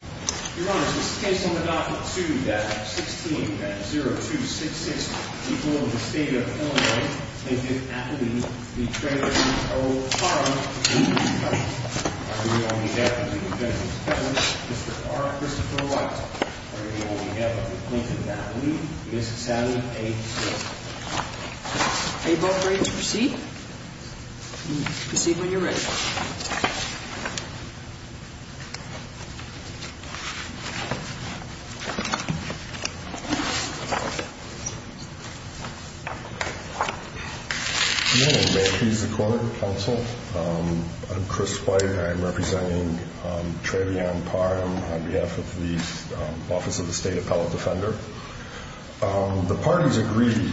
Your Honor, it is the case on the docket 2-16-0266 before the State of Illinois, Plaintiff Appley v. Treanor v. O. Parham v. McCutcheon. Are you on behalf of the defendant's parents, Mr. R. Christopher White? Are you on behalf of the plaintiff's family, Mrs. Sally A. Smith? Are you both ready to proceed? Proceed when you're ready. Good evening. May it please the Court, Counsel. I'm Chris White. I'm representing Treanor v. Parham on behalf of the Office of the State Appellate Defender. The parties agree,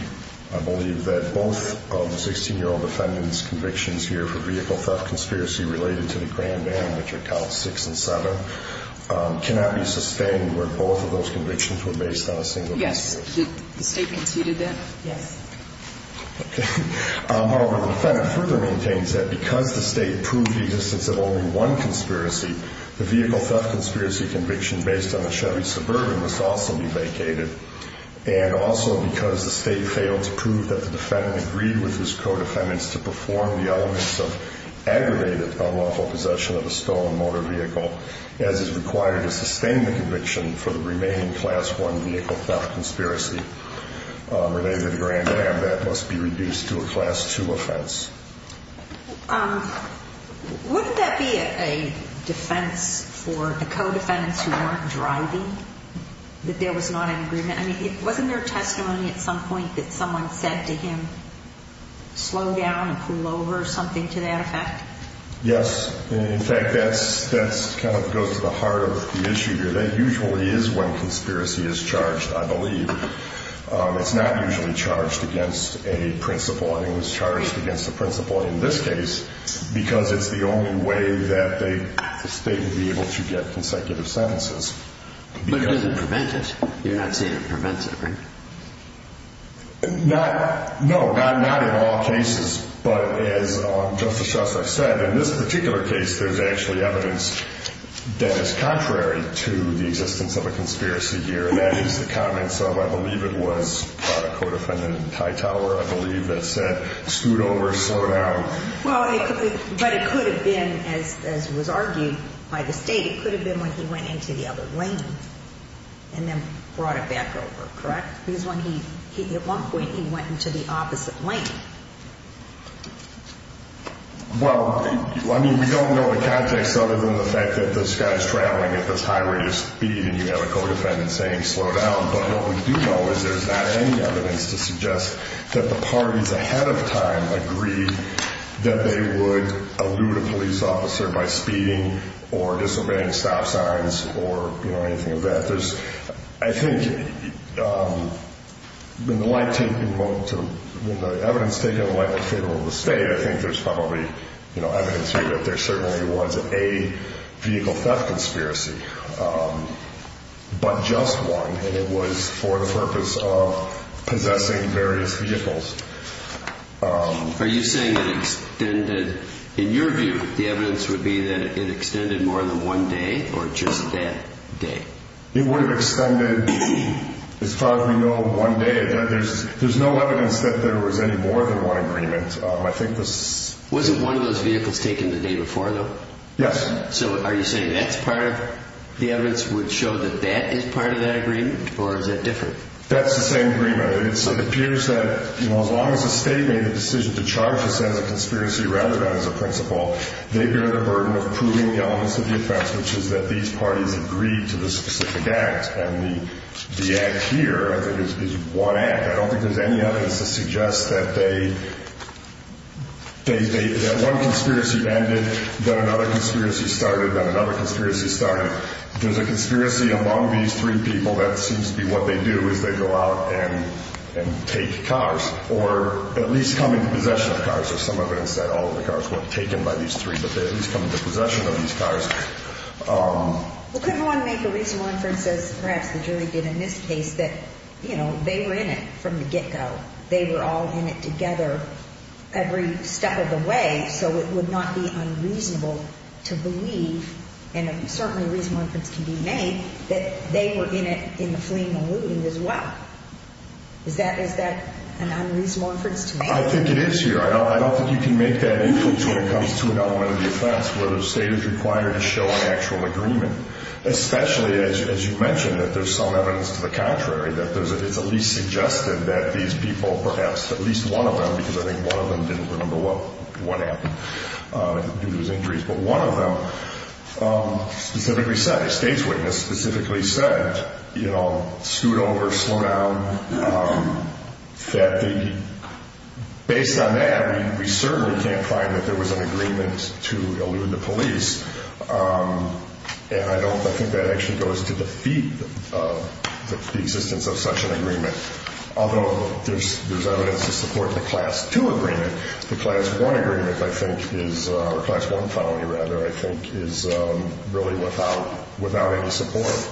I believe, that both of the 16-year-old defendant's convictions here for vehicle theft conspiracy related to the Grand Van, which are Calls 6 and 7, cannot be sustained where both of those convictions were based on a single case. Yes. Did the State conceded that? Yes. However, the defendant further maintains that because the State proved the existence of only one conspiracy, the vehicle theft conspiracy conviction based on a Chevy Suburban must also be vacated. And also because the State failed to prove that the defendant agreed with his co-defendants to perform the elements of aggravated unlawful possession of a stolen motor vehicle, as is required to sustain the conviction for the remaining Class 1 vehicle theft conspiracy related to the Grand Van, that must be reduced to a Class 2 offense. Wouldn't that be a defense for the co-defendants who weren't driving, that there was not an agreement? I mean, wasn't there testimony at some point that someone said to him, slow down and pull over or something to that effect? Yes. In fact, that kind of goes to the heart of the issue here. That usually is when conspiracy is charged, I believe. It's not usually charged against a principal. I think it was charged against a principal in this case because it's the only way that the State would be able to get consecutive sentences. But it doesn't prevent it. You're not saying it prevents it, right? No. Not in all cases. But as Justice Shuster said, in this particular case, there's actually evidence that is contrary to the existence of a conspiracy here. And that is the comments of, I believe it was, a co-defendant in Tye Tower, I believe, that said, scoot over, slow down. Well, but it could have been, as was argued by the State, it could have been when he went into the other lane and then brought it back over, correct? Because at one point he went into the opposite lane. Well, I mean, we don't know the context other than the fact that this guy is traveling at this high rate of speed and you have a co-defendant saying slow down. But what we do know is there's not any evidence to suggest that the parties ahead of time agreed that they would elude a police officer by speeding or disobeying stop signs or anything of that. I think when the evidence is taken in favor of the State, I think there's probably evidence here that there certainly was a vehicle theft conspiracy. But just one, and it was for the purpose of possessing various vehicles. Are you saying it extended, in your view, the evidence would be that it extended more than one day or just that day? It would have extended, as far as we know, one day. There's no evidence that there was any more than one agreement. Wasn't one of those vehicles taken the day before, though? Yes. So are you saying that's part of the evidence which showed that that is part of that agreement, or is that different? That's the same agreement. It appears that, you know, as long as the State made the decision to charge us as a conspiracy rather than as a principal, they bear the burden of proving the elements of the offense, which is that these parties agreed to the specific act. And the act here, I think, is one act. I don't think there's any evidence to suggest that they – that one conspiracy ended, then another conspiracy started, then another conspiracy started. If there's a conspiracy among these three people, that seems to be what they do is they go out and take cars or at least come into possession of cars, or some evidence that all of the cars weren't taken by these three, but they at least come into possession of these cars. Well, could one make a reasonable inference, as perhaps the jury did in this case, that, you know, they were in it from the get-go. They were all in it together every step of the way, so it would not be unreasonable to believe, and certainly a reasonable inference can be made, that they were in it in the fling and looting as well. Is that – is that an unreasonable inference to make? I think it is here. I don't think you can make that inference when it comes to an element of the offense where the state is required to show an actual agreement, especially, as you mentioned, that there's some evidence to the contrary, that it's at least suggested that these people perhaps, at least one of them, because I think one of them didn't remember what happened due to his injuries, but one of them specifically said, a state's witness specifically said, you know, I mean, we certainly can't find that there was an agreement to elude the police, and I don't – I think that actually goes to defeat the existence of such an agreement, although there's evidence to support the Class 2 agreement. The Class 1 agreement, I think, is – or Class 1 felony, rather, I think, is really without any support.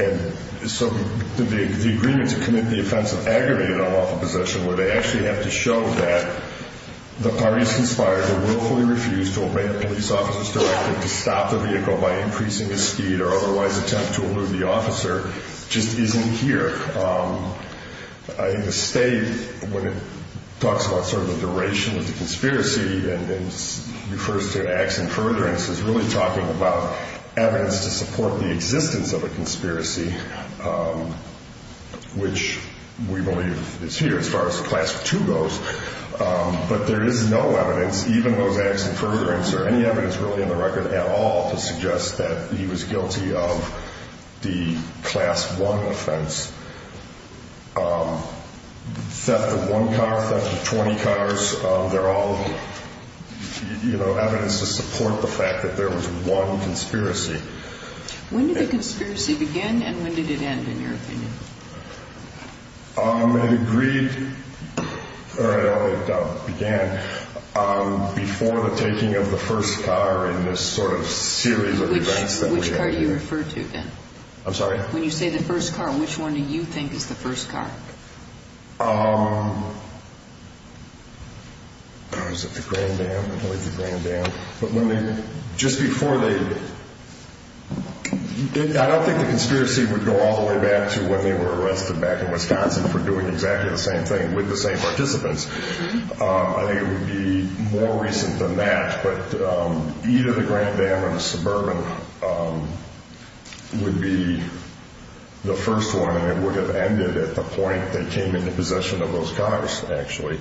And so the agreement to commit the offense of aggravated unlawful possession, where they actually have to show that the parties conspired to willfully refuse to obey a police officer's directive to stop the vehicle by increasing the speed or otherwise attempt to elude the officer, just isn't here. I think the state, when it talks about sort of the duration of the conspiracy and refers to acts in furtherance, is really talking about evidence to support the existence of a conspiracy, which we believe is here as far as the Class 2 goes. But there is no evidence, even those acts in furtherance, or any evidence really on the record at all to suggest that he was guilty of the Class 1 offense. Theft of one car, theft of 20 cars, they're all evidence to support the fact that there was one conspiracy. When did the conspiracy begin and when did it end, in your opinion? It agreed – or it began before the taking of the first car in this sort of series of events that we have here. Which car do you refer to, then? I'm sorry? When you say the first car, which one do you think is the first car? Is it the Grand Dam? I believe the Grand Dam. But when they – just before they – I don't think the conspiracy would go all the way back to when they were arrested back in Wisconsin for doing exactly the same thing with the same participants. I think it would be more recent than that. But either the Grand Dam or the Suburban would be the first one, and it would have ended at the point they came into possession of those cars, actually.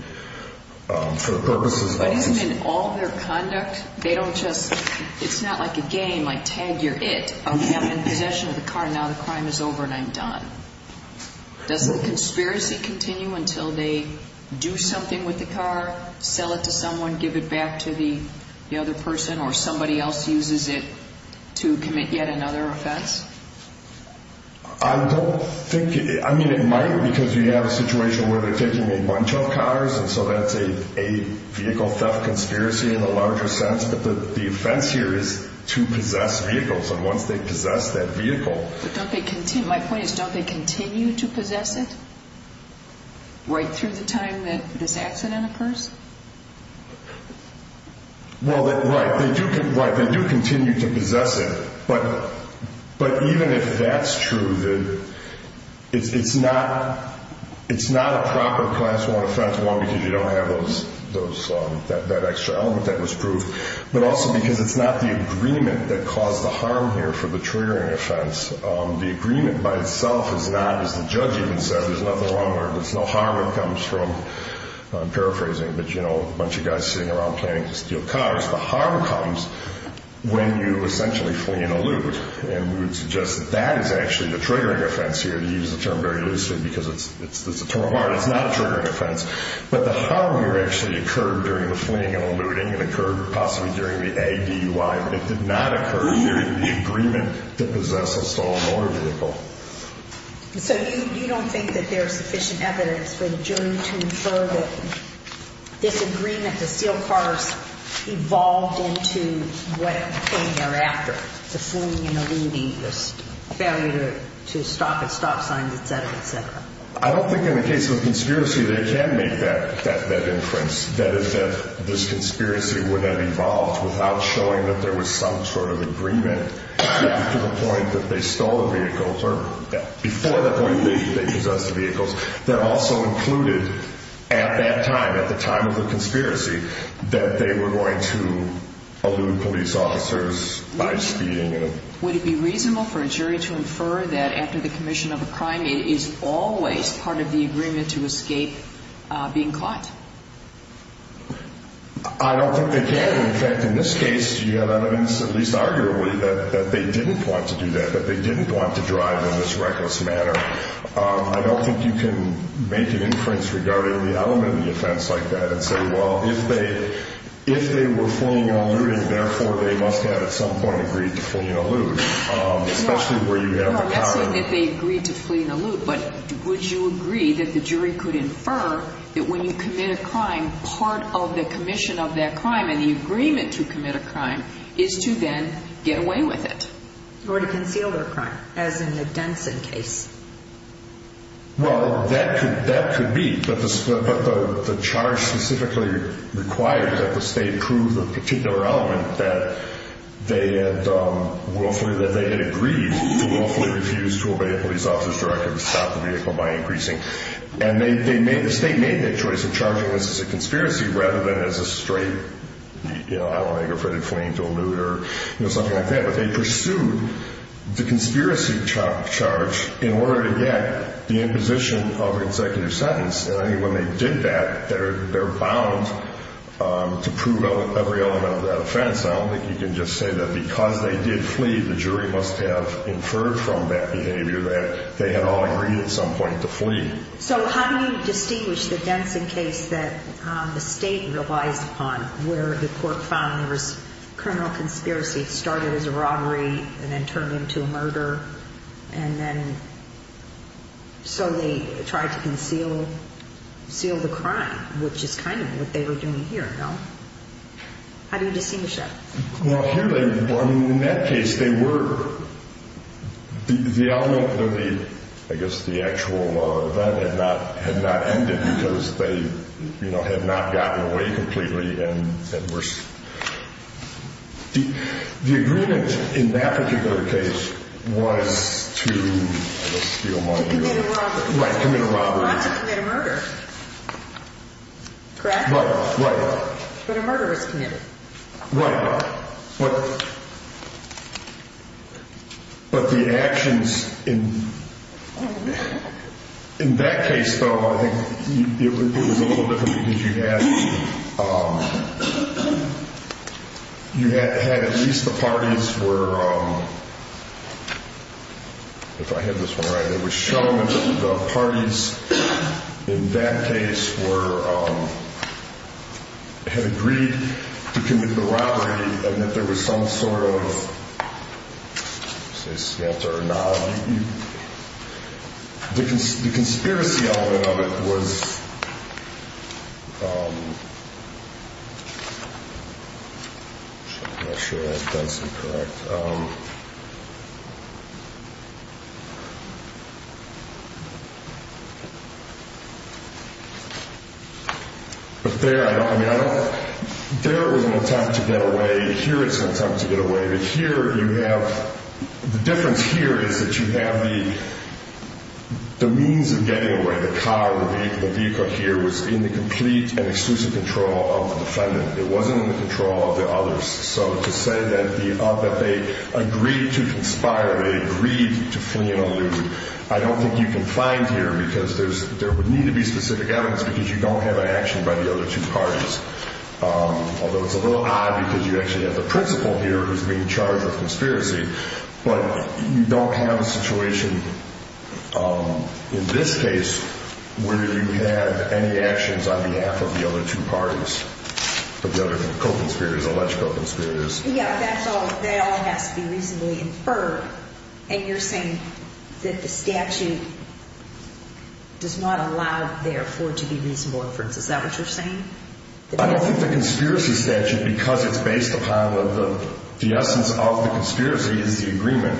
For the purposes of – But isn't it all their conduct? They don't just – it's not like a game, like tag, you're it. I'm in possession of the car and now the crime is over and I'm done. Does the conspiracy continue until they do something with the car, sell it to someone, give it back to the other person, or somebody else uses it to commit yet another offense? I don't think – I mean, it might, because you have a situation where they're taking a bunch of cars, and so that's a vehicle theft conspiracy in a larger sense. But the offense here is to possess vehicles, and once they possess that vehicle – But don't they continue – my point is, don't they continue to possess it right through the time that this accident occurs? Well, right, they do continue to possess it, but even if that's true, it's not a proper class one offense, not because you don't have that extra element that was proved, but also because it's not the agreement that caused the harm here for the triggering offense. The agreement by itself is not, as the judge even said, there's nothing wrong with it, there's no harm that comes from – I'm paraphrasing, but you know, a bunch of guys sitting around planning to steal cars. The harm comes when you essentially flee and elude, and we would suggest that that is actually the triggering offense here, to use the term very loosely because it's a term of art. It's not a triggering offense, but the harm here actually occurred during the fleeing and eluding and occurred possibly during the A.D.U.I., but it did not occur during the agreement to possess a stolen motor vehicle. So you don't think that there's sufficient evidence for the jury to infer that this agreement to steal cars evolved into what came thereafter, the fleeing and eluding, the failure to stop at stop signs, et cetera, et cetera. I don't think in the case of a conspiracy they can make that inference, that is that this conspiracy would have evolved without showing that there was some sort of agreement to the point that they stole a vehicle, or before that point they possessed a vehicle, that also included at that time, at the time of the conspiracy, that they were going to elude police officers by speeding. Would it be reasonable for a jury to infer that after the commission of a crime it is always part of the agreement to escape being caught? I don't think they can. In fact, in this case you have evidence, at least arguably, that they didn't want to do that, that they didn't want to drive in this reckless manner. I don't think you can make an inference regarding the element of the offense like that and say, well, if they were fleeing and eluding, therefore they must have at some point agreed to flee and elude, especially where you have the power. Not saying that they agreed to flee and elude, but would you agree that the jury could infer that when you commit a crime, part of the commission of that crime and the agreement to commit a crime is to then get away with it? Or to conceal their crime, as in the Denson case. Well, that could be, but the charge specifically required that the state prove a particular element that they had agreed to willfully refuse to obey a police officer's directive to stop the vehicle by increasing. And the state made that choice of charging this as a conspiracy rather than as a straight, I don't want to go for the fleeing to elude or something like that, but they pursued the conspiracy charge in order to get the imposition of an executive sentence. And I think when they did that, they're bound to prove every element of that offense. I don't think you can just say that because they did flee, the jury must have inferred from that behavior that they had all agreed at some point to flee. So how do you distinguish the Denson case that the state relies upon, where the court found there was criminal conspiracy, started as a robbery and then turned into a murder, and then so they tried to conceal the crime, which is kind of what they were doing here, no? How do you distinguish that? Well, in that case, they were. The element that they, I guess the actual event had not ended because they had not gotten away completely. The agreement in that particular case was to steal money. To commit a robbery. Right, commit a robbery. Not to commit a murder. Correct? Right. But a murder was committed. Right. But the actions in that case, though, I think it was a little different because you had at least the parties were, if I have this one right, it was shown that the parties in that case were, had agreed to commit the robbery and that there was some sort of, say, smelter or knob. The conspiracy element of it was, I'm not sure if that's correct. But there, I mean, I don't, there it was an attempt to get away. Here it's an attempt to get away. But here you have, the difference here is that you have the means of getting away. The car, the vehicle here was in the complete and exclusive control of the defendant. It wasn't in the control of the others. So to say that the, that they agreed to conspire, they agreed to flee and elude, I don't think you can find here because there would need to be specific evidence because you don't have an action by the other two parties. Although it's a little odd because you actually have the principal here who's being charged with conspiracy. But you don't have a situation in this case where you have any actions on behalf of the other two parties, of the other co-conspirators, alleged co-conspirators. Yeah, that's all, that all has to be reasonably inferred. And you're saying that the statute does not allow therefore to be reasonable inference. Is that what you're saying? I don't think the conspiracy statute, because it's based upon the essence of the conspiracy, is the agreement.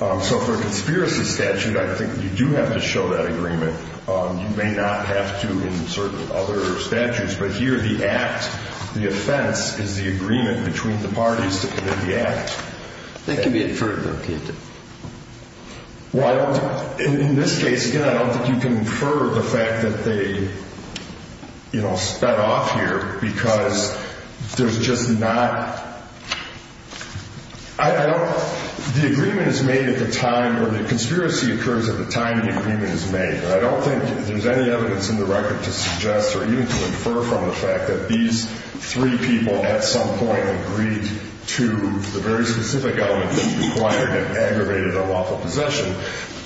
So for a conspiracy statute, I think you do have to show that agreement. You may not have to in certain other statutes. But here the act, the offense, is the agreement between the parties to commit the act. That can be inferred though, can't it? Well, I don't, in this case, again, I don't think you can infer the fact that they, you know, sped off here because there's just not, I don't, the agreement is made at the time, or the conspiracy occurs at the time the agreement is made. And I don't think there's any evidence in the record to suggest or even to infer from the fact that these three people at some point agreed to the very specific element that required an aggravated unlawful possession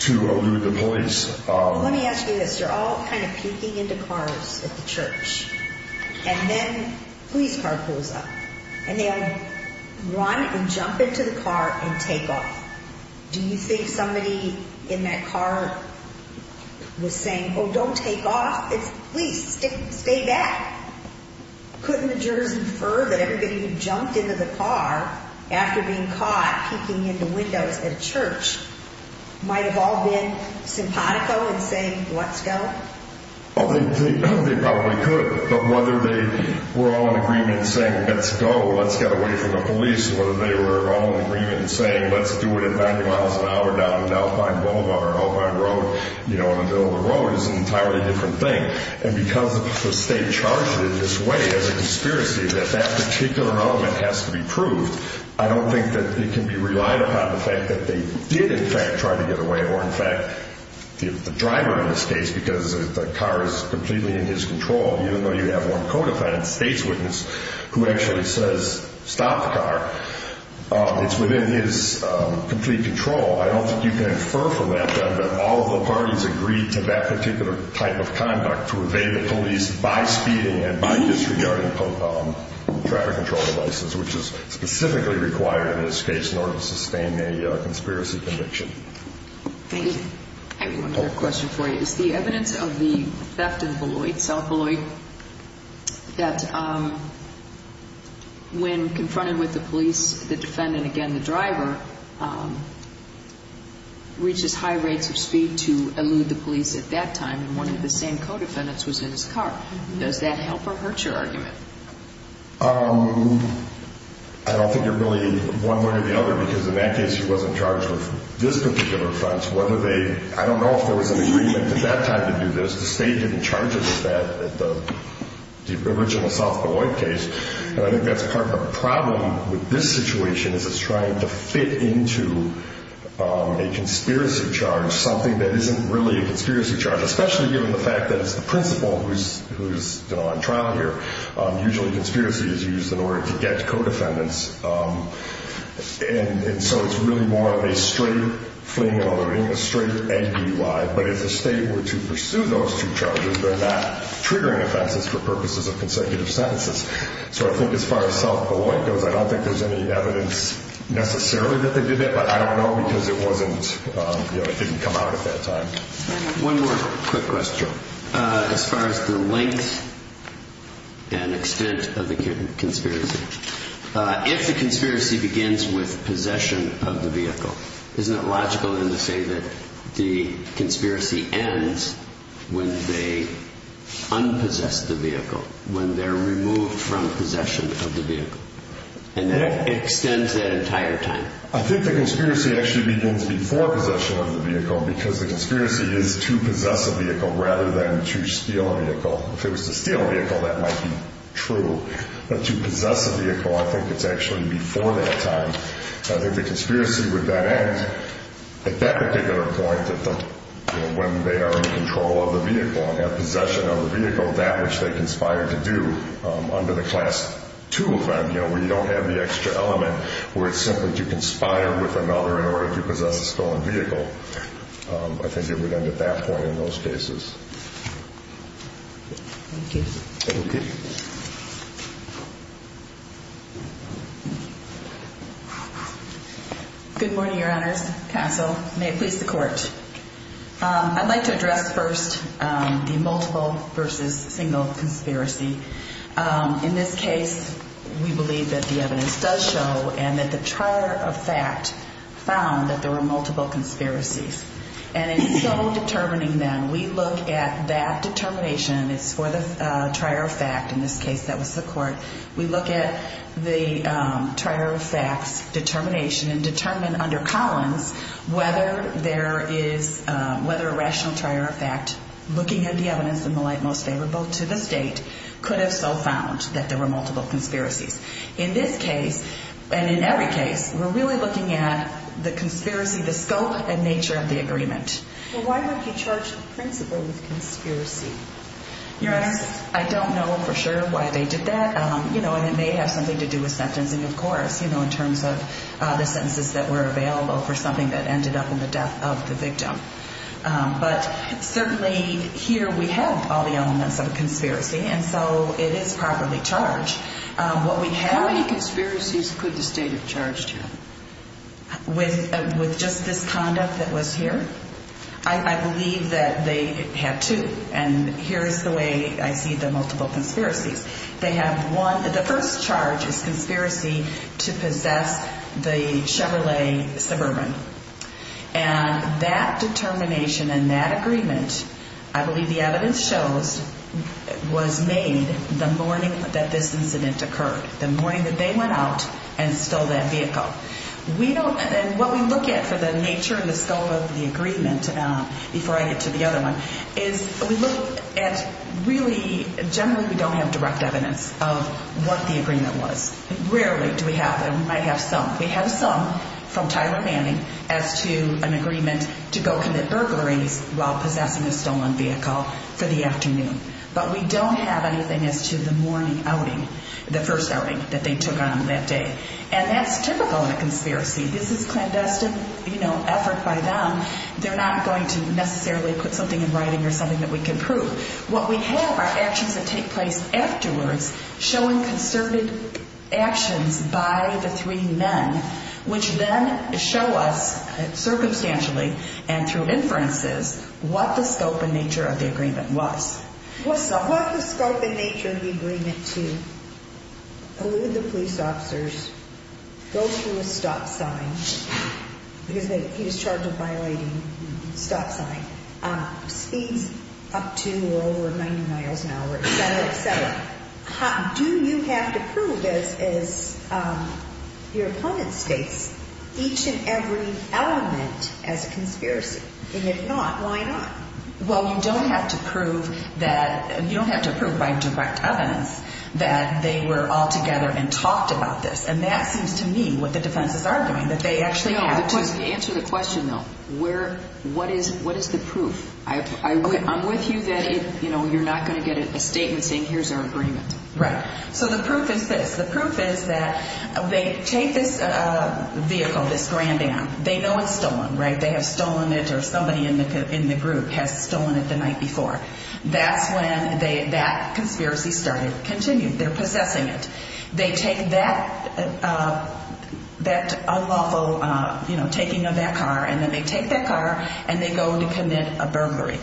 to elude the police. Well, let me ask you this. They're all kind of peeking into cars at the church. And then a police car pulls up. And they all run and jump into the car and take off. Do you think somebody in that car was saying, oh, don't take off. Please, stay back. Couldn't the jurors infer that everybody who jumped into the car after being caught peeking into windows at a church might have all been simpatico and saying, let's go? Well, they probably could. But whether they were all in agreement saying, let's go, let's get away from the police, whether they were all in agreement saying, let's do it at 90 miles an hour down at Alpine Boulevard or an Alpine Road in the middle of the road is an entirely different thing. And because the state charged it in this way as a conspiracy that that particular element has to be proved, I don't think that it can be relied upon the fact that they did in fact try to get away or in fact the driver in this case, because the car is completely in his control, even though you have one co-defendant, state's witness, who actually says stop the car. It's within his complete control. I don't think you can infer from that, then, that all of the parties agreed to that particular type of conduct to evade the police by speeding and by disregarding traffic control devices, which is specifically required in this case in order to sustain a conspiracy conviction. Thank you. I have one other question for you. Is the evidence of the theft in Beloit, South Beloit, that when confronted with the police, the defendant, again the driver, reaches high rates of speed to elude the police at that time and one of the same co-defendants was in his car? Does that help or hurt your argument? I don't think they're really one way or the other, because in that case he wasn't charged with this particular offense. I don't know if there was an agreement at that time to do this. The state didn't charge us with that at the original South Beloit case. I think that's part of the problem with this situation is it's trying to fit into a conspiracy charge, something that isn't really a conspiracy charge, especially given the fact that it's the principal who's on trial here. Usually conspiracy is used in order to get co-defendants, and so it's really more of a straight fleeing and running, a straight A-B-Y. But if the state were to pursue those two charges, then that triggering offense is for purposes of consecutive sentences. So I think as far as South Beloit goes, I don't think there's any evidence necessarily that they did it, but I don't know because it didn't come out at that time. One more quick question. As far as the length and extent of the conspiracy, if the conspiracy begins with possession of the vehicle, isn't it logical then to say that the conspiracy ends when they un-possess the vehicle, when they're removed from possession of the vehicle? And that extends that entire time? I think the conspiracy actually begins before possession of the vehicle because the conspiracy is to possess a vehicle rather than to steal a vehicle. If it was to steal a vehicle, that might be true, but to possess a vehicle, I think it's actually before that time. I think the conspiracy would then end at that particular point, when they are in control of the vehicle and have possession of the vehicle, that which they conspired to do under the Class II offense, where you don't have the extra element, where it's simply to conspire with another in order to possess a stolen vehicle. I think it would end at that point in those cases. Thank you. Thank you. Good morning, Your Honors, Counsel. May it please the Court. I'd like to address first the multiple versus single conspiracy. In this case, we believe that the evidence does show and that the trier of fact found that there were multiple conspiracies. And in so determining them, we look at that determination. It's for the trier of fact. In this case, that was the Court. We look at the trier of fact's determination and determine under Collins whether a rational trier of fact, looking at the evidence in the light most favorable to the State, could have so found that there were multiple conspiracies. In this case, and in every case, we're really looking at the conspiracy, the scope and nature of the agreement. Why would he charge the principal with conspiracy? Your Honors, I don't know for sure why they did that, and it may have something to do with sentencing, of course, in terms of the sentences that were available for something that ended up in the death of the victim. But certainly here we have all the elements of a conspiracy, and so it is properly charged. How many conspiracies could the State have charged him? With just this conduct that was here? I believe that they had two, and here is the way I see the multiple conspiracies. They have one. The first charge is conspiracy to possess the Chevrolet Suburban. And that determination and that agreement, I believe the evidence shows, was made the morning that this incident occurred, the morning that they went out and stole that vehicle. And what we look at for the nature and the scope of the agreement, before I get to the other one, is we look at really generally we don't have direct evidence of what the agreement was. Rarely do we have that. We might have some. We have some from Tyler Manning as to an agreement to go commit burglaries while possessing a stolen vehicle for the afternoon. But we don't have anything as to the morning outing, the first outing that they took on that day. And that's typical in a conspiracy. This is clandestine effort by them. They're not going to necessarily put something in writing or something that we can prove. What we have are actions that take place afterwards showing concerted actions by the three men, which then show us circumstantially and through inferences what the scope and nature of the agreement was. What's the scope and nature of the agreement to elude the police officers, go through a stop sign, because he was charged with violating a stop sign, speeds up to or over 90 miles an hour, et cetera, et cetera. Do you have to prove, as your opponent states, each and every element as a conspiracy? And if not, why not? Well, you don't have to prove by direct evidence that they were all together and talked about this. And that seems to me what the defenses are doing, that they actually have to. No, answer the question, though. What is the proof? I'm with you that you're not going to get a statement saying, here's our agreement. Right. So the proof is this. The proof is that they take this vehicle, this Grand Am. They know it's stolen, right? They have stolen it or somebody in the group has stolen it the night before. That's when that conspiracy started to continue. They're possessing it. They take that unlawful taking of that car, and then they take that car and they go to commit a burglary.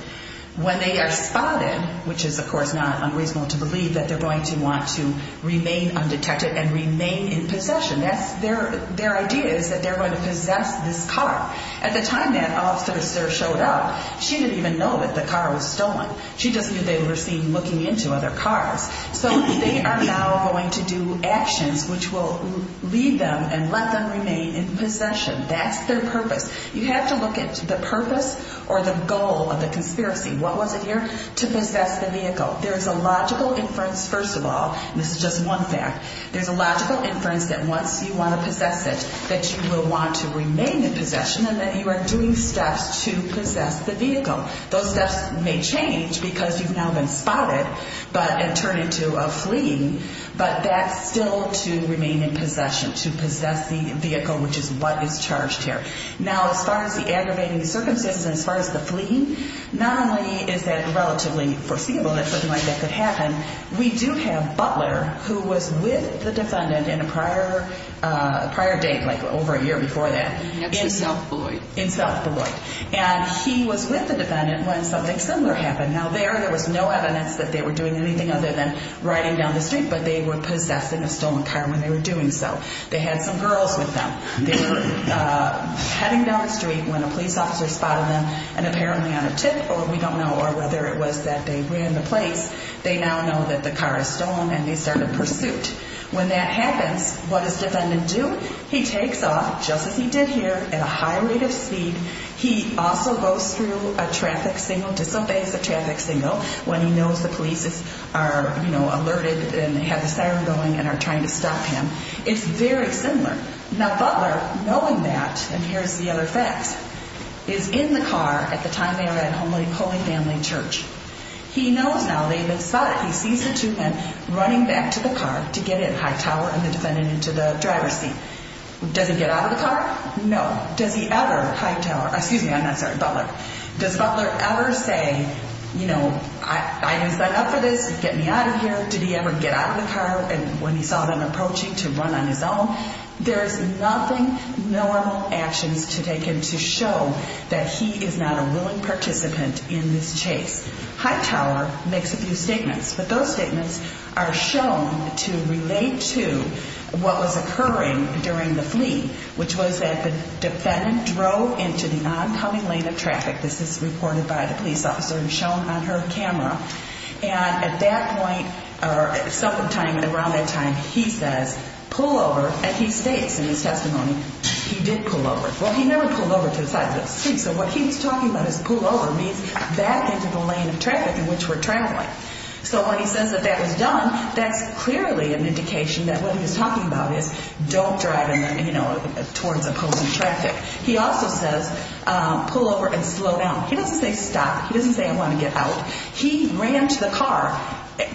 When they are spotted, which is, of course, not unreasonable to believe that they're going to want to remain undetected and remain in possession, their idea is that they're going to possess this car. At the time that officer showed up, she didn't even know that the car was stolen. She just knew they were seen looking into other cars. So they are now going to do actions which will lead them and let them remain in possession. That's their purpose. You have to look at the purpose or the goal of the conspiracy. What was it here? To possess the vehicle. There is a logical inference, first of all, and this is just one fact, there's a logical inference that once you want to possess it, that you will want to remain in possession and that you are doing steps to possess the vehicle. Those steps may change because you've now been spotted and turned into a fleeing, but that's still to remain in possession, to possess the vehicle, which is what is charged here. Now, as far as the aggravating circumstances and as far as the fleeing, not only is that relatively foreseeable that something like that could happen, we do have Butler, who was with the defendant in a prior date, like over a year before that. That's in South Beloit. In South Beloit. And he was with the defendant when something similar happened. Now, there was no evidence that they were doing anything other than riding down the street, but they were possessing a stolen car when they were doing so. They had some girls with them. They were heading down the street when a police officer spotted them and apparently on a tip, or we don't know, or whether it was that they ran the place, they now know that the car is stolen and they start a pursuit. When that happens, what does the defendant do? He takes off, just as he did here, at a high rate of speed. He also goes through a traffic signal. To some extent, it's a traffic signal. When he knows the police are, you know, alerted and have the siren going and are trying to stop him. It's very similar. Now, Butler, knowing that, and here's the other fact, is in the car at the time they were at Holy Family Church. He knows now. He sees the two men running back to the car to get at Hightower and the defendant into the driver's seat. Does he get out of the car? No. Does he ever, Hightower, excuse me, I'm not sorry, Butler, does Butler ever say, you know, I have signed up for this. Get me out of here. Did he ever get out of the car? And when he saw them approaching to run on his own, there's nothing normal actions to take him to show that he is not a willing participant in this chase. Hightower makes a few statements, but those statements are shown to relate to what was occurring during the fleet, which was that the defendant drove into the oncoming lane of traffic. This is reported by the police officer and shown on her camera. And at that point, or sometime around that time, he says, pull over, and he states in his testimony he did pull over. Well, he never pulled over to the side of the street, so what he's talking about is pull over means back into the lane of traffic in which we're traveling. So when he says that that was done, that's clearly an indication that what he was talking about is don't drive, you know, towards opposing traffic. He also says pull over and slow down. He doesn't say stop. He doesn't say I want to get out. He ran to the car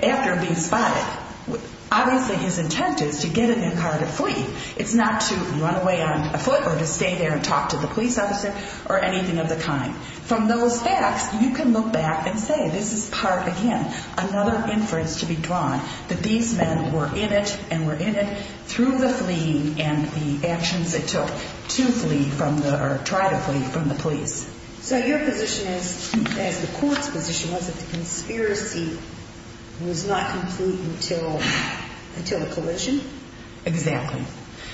after being spotted. Obviously, his intent is to get in the car to flee. It's not to run away on foot or to stay there and talk to the police officer or anything of the kind. From those facts, you can look back and say this is part, again, another inference to be drawn, that these men were in it and were in it through the fleeing and the actions it took to flee or try to flee from the police. So your position is, as the court's position was, that the conspiracy was not complete until the collision? Exactly.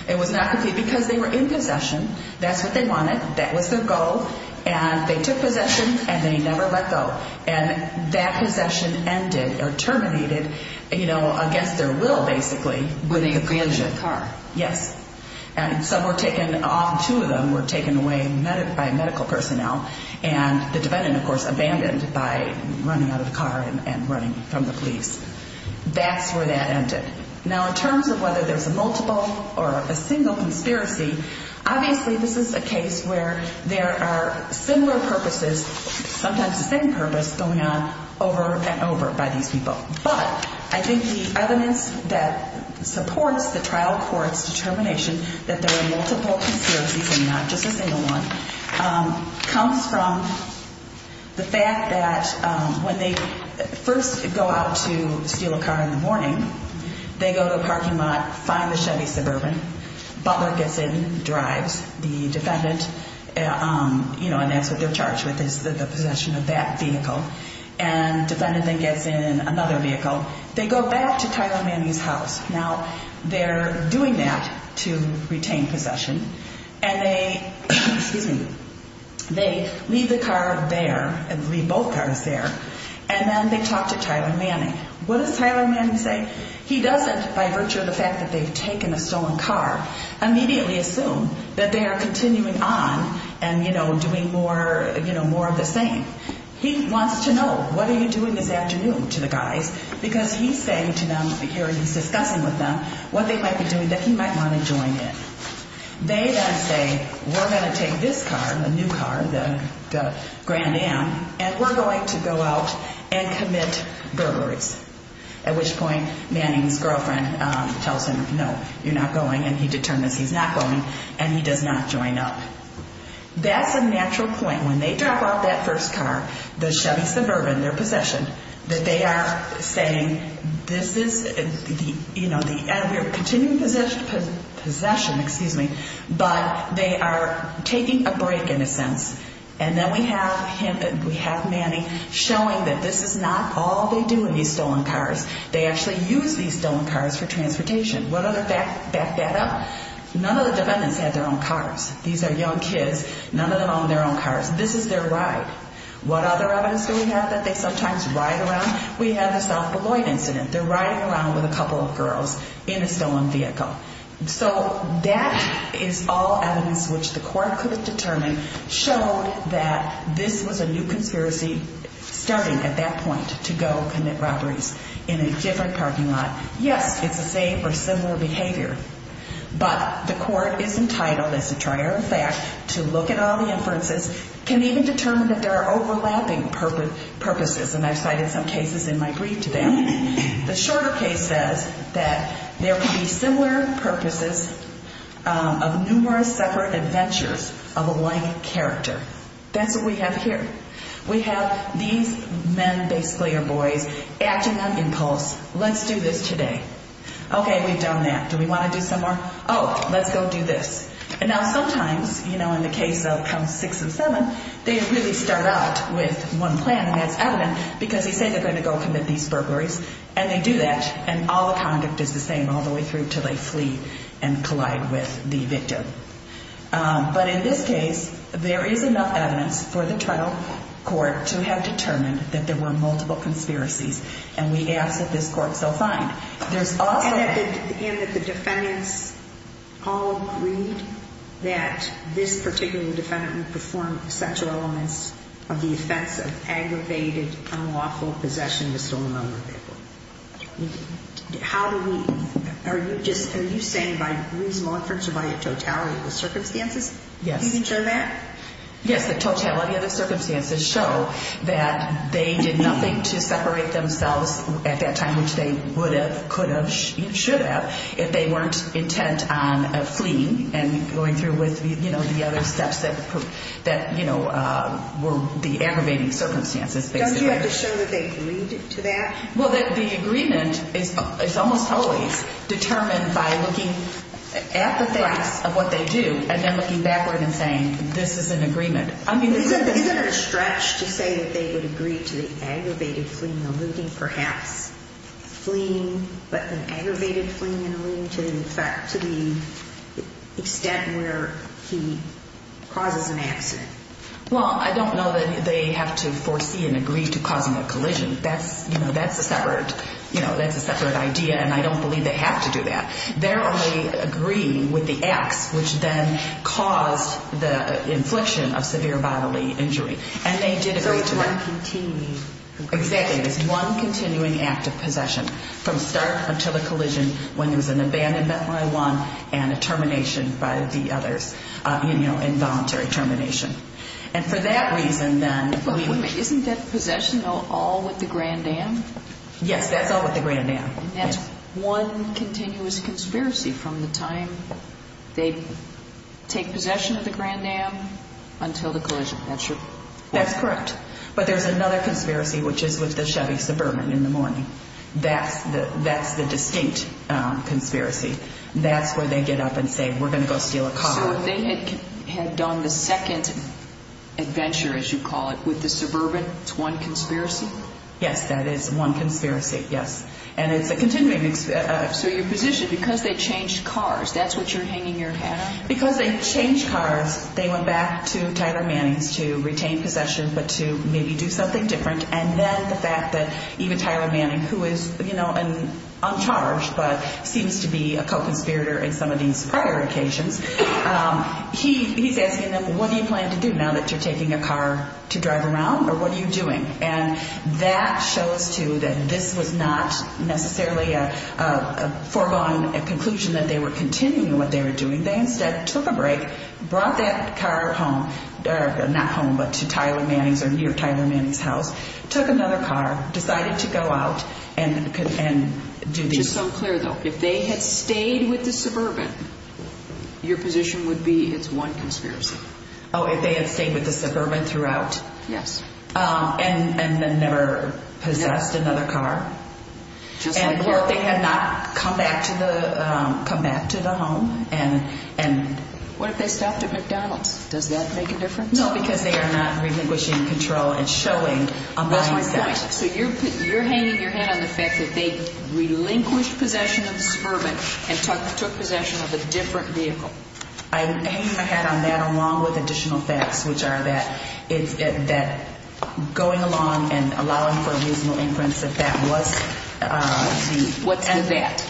It was not complete because they were in possession. That's what they wanted. That was their goal. And they took possession and they never let go. And that possession ended or terminated, you know, against their will, basically. When they abandoned the car. Yes. And some were taken off. Two of them were taken away by medical personnel. And the defendant, of course, abandoned by running out of the car and running from the police. That's where that ended. Now, in terms of whether there's a multiple or a single conspiracy, obviously this is a case where there are similar purposes, sometimes the same purpose, going on over and over by these people. But I think the evidence that supports the trial court's determination that there were multiple conspiracies and not just a single one comes from the fact that when they first go out to steal a car in the morning, they go to a parking lot, find the Chevy Suburban, Butler gets in, drives, the defendant, you know, and that's what they're charged with is the possession of that vehicle. And the defendant then gets in another vehicle. They go back to Tyler Manning's house. Now, they're doing that to retain possession. And they leave the car there and leave both cars there. And then they talk to Tyler Manning. What does Tyler Manning say? He doesn't, by virtue of the fact that they've taken a stolen car, immediately assume that they are continuing on and, you know, doing more of the same. He wants to know what are you doing this afternoon to the guys because he's saying to them here, he's discussing with them what they might be doing that he might want to join in. They then say, we're going to take this car, the new car, the Grand Am, and we're going to go out and commit burglaries, at which point Manning's girlfriend tells him, no, you're not going, and he determines he's not going, and he does not join up. That's a natural point. When they drop off that first car, the Chevy Suburban, their possession, that they are saying this is, you know, the continuing possession, but they are taking a break in a sense. And then we have Manning showing that this is not all they do in these stolen cars. They actually use these stolen cars for transportation. What other facts back that up? None of the defendants had their own cars. These are young kids. None of them own their own cars. This is their ride. What other evidence do we have that they sometimes ride around? We have the South Beloit incident. They're riding around with a couple of girls in a stolen vehicle. So that is all evidence which the court could have determined showed that this was a new conspiracy starting at that point to go commit robberies in a different parking lot. Yes, it's the same or similar behavior, but the court is entitled, as a trier of fact, to look at all the inferences, can even determine that there are overlapping purposes, and I've cited some cases in my brief to them. The shorter case says that there could be similar purposes of numerous separate adventures of a like character. That's what we have here. We have these men, basically, or boys acting on impulse. Let's do this today. Okay, we've done that. Do we want to do some more? Oh, let's go do this. And now sometimes, you know, in the case of counts six and seven, they really start out with one plan, and that's evident because they say they're going to go commit these burglaries, and they do that, and all the conduct is the same all the way through until they flee and collide with the victim. But in this case, there is enough evidence for the trial court to have determined that there were multiple conspiracies, and we ask that this court so find. And that the defendants all agreed that this particular defendant performed sexual elements of the offense of aggravated unlawful possession of a stolen lumber vehicle. Are you saying by reasonable inference or by totality of the circumstances you can show that? Yes, the totality of the circumstances show that they did nothing to separate themselves at that time, which they would have, could have, should have, if they weren't intent on fleeing and going through with, you know, the other steps that, you know, were the aggravating circumstances, basically. Don't you have to show that they agreed to that? Well, the agreement is almost always determined by looking at the face of what they do and then looking backward and saying, this is an agreement. Isn't there a stretch to say that they would agree to the aggravated fleeing and eluding, perhaps fleeing, but an aggravated fleeing and eluding, to the extent where he causes an accident? Well, I don't know that they have to foresee and agree to causing a collision. That's, you know, that's a separate, you know, that's a separate idea, and I don't believe they have to do that. They're only agreeing with the acts which then caused the infliction of severe bodily injury. And they did agree to that. So it's one continuing. Exactly. It's one continuing act of possession from start until the collision when there was an abandonment by one and a termination by the others, you know, involuntary termination. And for that reason, then, I mean... But wait a minute. Isn't that possession all with the Grand Am? Yes, that's all with the Grand Am. And that's one continuous conspiracy from the time they take possession of the Grand Am until the collision. That's your... That's correct. But there's another conspiracy, which is with the Chevy Suburban in the morning. That's the distinct conspiracy. That's where they get up and say, we're going to go steal a car. So they had done the second adventure, as you call it, with the Suburban. It's one conspiracy? Yes, that is one conspiracy, yes. And it's a continuing... So your position, because they changed cars, that's what you're hanging your hat on? Because they changed cars, they went back to Tyler Mannings to retain possession but to maybe do something different. And then the fact that even Tyler Mannings, who is, you know, uncharged but seems to be a co-conspirator in some of these prior occasions, he's asking them, what do you plan to do now that you're taking a car to drive around? Or what are you doing? And that shows, too, that this was not necessarily a foregone conclusion that they were continuing what they were doing. They instead took a break, brought that car home, not home but to Tyler Mannings or near Tyler Mannings' house, took another car, decided to go out and do this. Just so I'm clear, though, if they had stayed with the Suburban, your position would be it's one conspiracy? Oh, if they had stayed with the Suburban throughout? Yes. And then never possessed another car? And what if they had not come back to the home? What if they stopped at McDonald's? Does that make a difference? No, because they are not relinquishing control and showing a mindset. That's my question. So you're hanging your hat on the fact that they relinquished possession of the Suburban and took possession of a different vehicle? I'm hanging my hat on that along with additional facts, which are that going along and allowing for a reasonable inference that that was the… What's the that?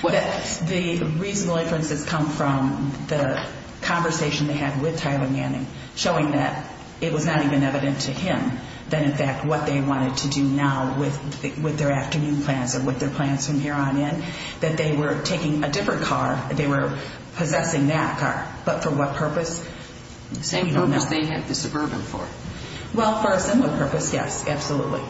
The reasonable inference has come from the conversation they had with Tyler Mannings showing that it was not even evident to him that, in fact, what they wanted to do now with their afternoon plans and with their plans from here on in, that they were taking a different car. They were possessing that car. But for what purpose? The same purpose they had the Suburban for. Well, for a similar purpose, yes, absolutely.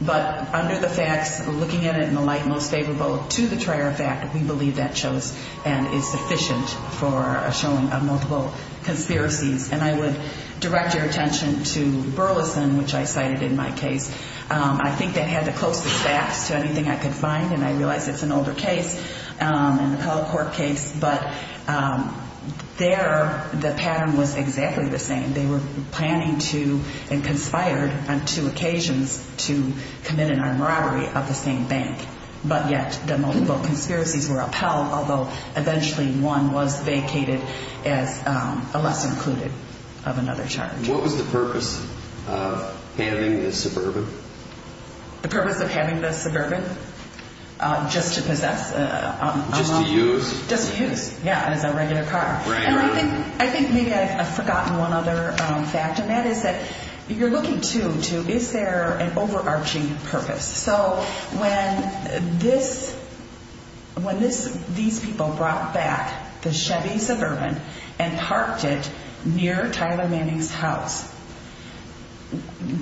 But under the facts, looking at it in the light most favorable to the Trier effect, we believe that shows and is sufficient for a showing of multiple conspiracies. And I would direct your attention to Burleson, which I cited in my case. I think they had the closest facts to anything I could find, and I realize it's an older case, a McCulloch Court case, but there the pattern was exactly the same. They were planning to and conspired on two occasions to commit an armed robbery of the same bank. But yet the multiple conspiracies were upheld, although eventually one was vacated unless included of another charge. What was the purpose of having the Suburban? The purpose of having the Suburban? Just to possess? Just to use? Just to use, yeah, as a regular car. And I think maybe I've forgotten one other fact, and that is that you're looking to, is there an overarching purpose? So when these people brought back the Chevy Suburban and parked it near Tyler Manning's house,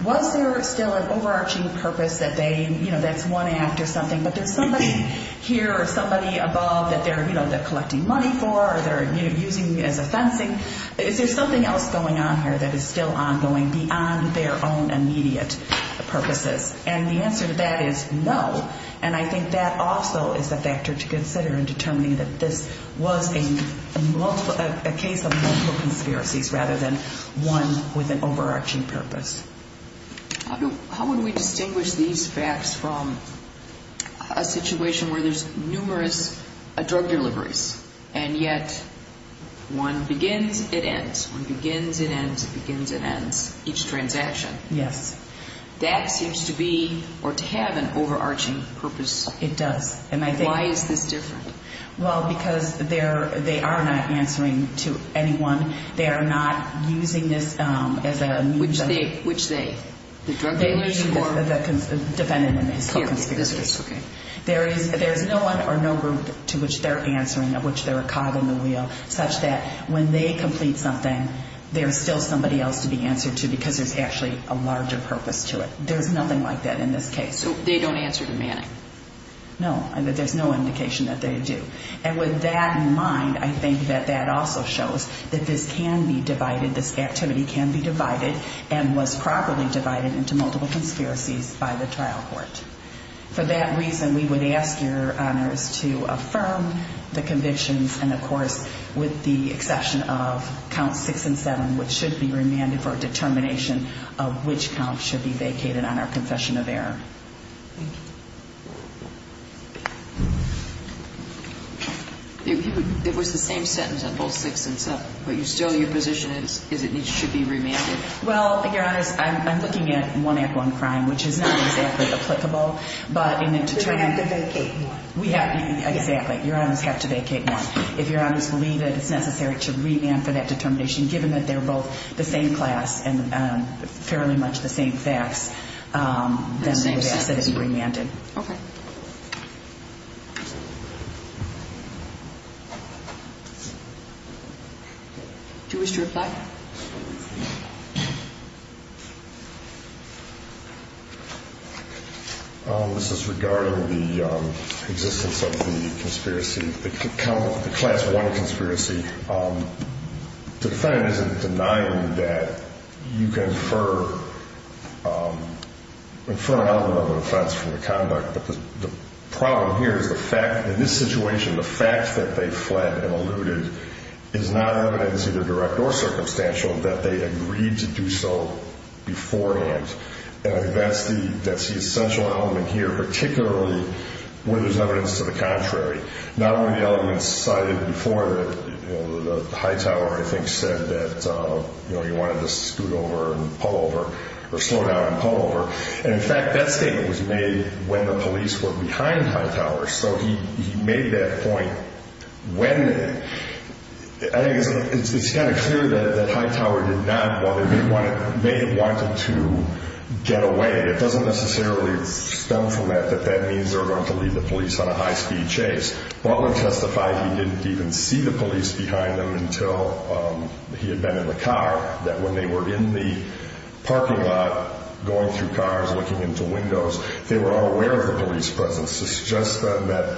was there still an overarching purpose that they, you know, that's one act or something, but there's somebody here or somebody above that they're collecting money for or they're using as a fencing? Is there something else going on here that is still ongoing beyond their own immediate purposes? And the answer to that is no, and I think that also is a factor to consider in determining that this was a case of multiple conspiracies rather than one with an overarching purpose. How would we distinguish these facts from a situation where there's numerous drug deliveries and yet one begins, it ends. One begins, it ends. It begins, it ends. Each transaction. Yes. That seems to be or to have an overarching purpose. It does. Why is this different? Well, because they are not answering to anyone. They are not using this as a means of Which they? The drug dealers or? The defendant in this case. Okay. There's no one or no group to which they're answering, of which they're a cog in the wheel, such that when they complete something, there's still somebody else to be answered to because there's actually a larger purpose to it. There's nothing like that in this case. So they don't answer to Manning? No, there's no indication that they do. And with that in mind, I think that that also shows that this can be divided, this activity can be divided and was properly divided into multiple conspiracies by the trial court. For that reason, we would ask your honors to affirm the convictions and, of course, with the exception of count six and seven, which should be remanded for a determination of which count should be vacated on our confession of error. Thank you. It was the same sentence on both six and seven, but still your position is it should be remanded? Well, your honors, I'm looking at one-on-one crime, which is not exactly applicable, but in the determination. We have to vacate more. Exactly. Your honors have to vacate more. If your honors believe that it's necessary to remand for that determination, given that they're both the same class and fairly much the same facts, then we would ask that it be remanded. Okay. Do you wish to reply? This is regarding the existence of the conspiracy, the class one conspiracy. The defendant isn't denying that you can infer an element of an offense from the conduct, but the problem here is the fact, in this situation, the fact that they fled and eluded is not evidence either direct or circumstantial that they agreed to do so beforehand. And I think that's the essential element here, particularly when there's evidence to the contrary. Not only the elements cited before, the Hightower, I think, said that he wanted to scoot over and pull over or slow down and pull over. And, in fact, that statement was made when the police were behind Hightower. So he made that point when. I think it's kind of clear that Hightower did not want to, may have wanted to get away. It doesn't necessarily stem from that, that that means they were going to leave the police on a high-speed chase. Butler testified he didn't even see the police behind them until he had been in the car, that when they were in the parking lot going through cars, looking into windows, they were unaware of the police presence. It suggests then that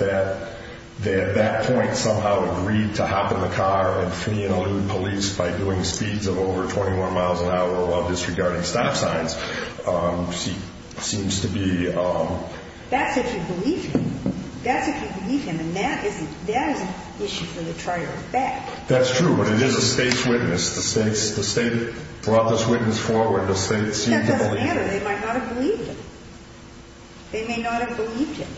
they, at that point, somehow agreed to hop in the car and flee and elude police by doing speeds of over 21 miles an hour while disregarding stop signs, seems to be. That's if you believe him. That's if you believe him. And that is an issue for the trier of fact. That's true. But it is a state's witness. The state brought this witness forward. The state seemed to believe. That doesn't matter. They might not have believed him. They may not have believed him.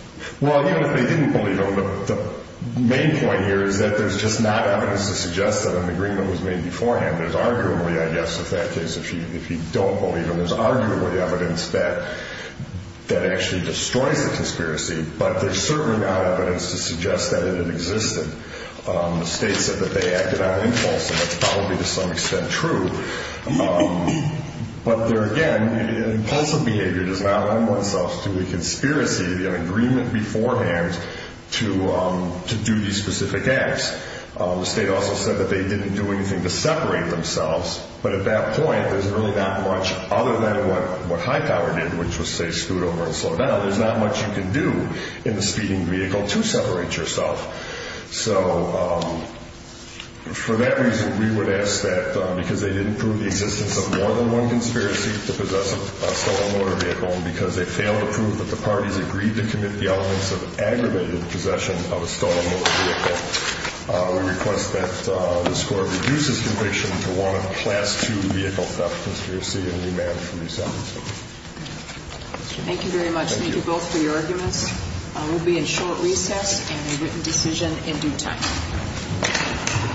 Well, even if they didn't believe him, the main point here is that there's just not evidence to suggest that an agreement was made beforehand. There's arguably, I guess, in that case, if you don't believe him, there's arguably evidence that that actually destroys the conspiracy. But there's certainly not evidence to suggest that it existed. The state said that they acted on impulse, and that's probably to some extent true. But there, again, impulsive behavior does not lend itself to a conspiracy, the agreement beforehand to do these specific acts. The state also said that they didn't do anything to separate themselves. But at that point, there's really not much other than what high power did, which was, say, scoot over and slow down. There's not much you can do in the speeding vehicle to separate yourself. So for that reason, we would ask that because they didn't prove the existence of more than one conspiracy to possess a stolen motor vehicle, and because they failed to prove that the parties agreed to commit the elements of aggravated possession of a stolen motor vehicle, we request that this Court reduce this conviction to one of the last two vehicle theft conspiracies, and remand for re-sentencing. Thank you very much. Thank you both for your arguments. We'll be in short recess and a written decision in due time.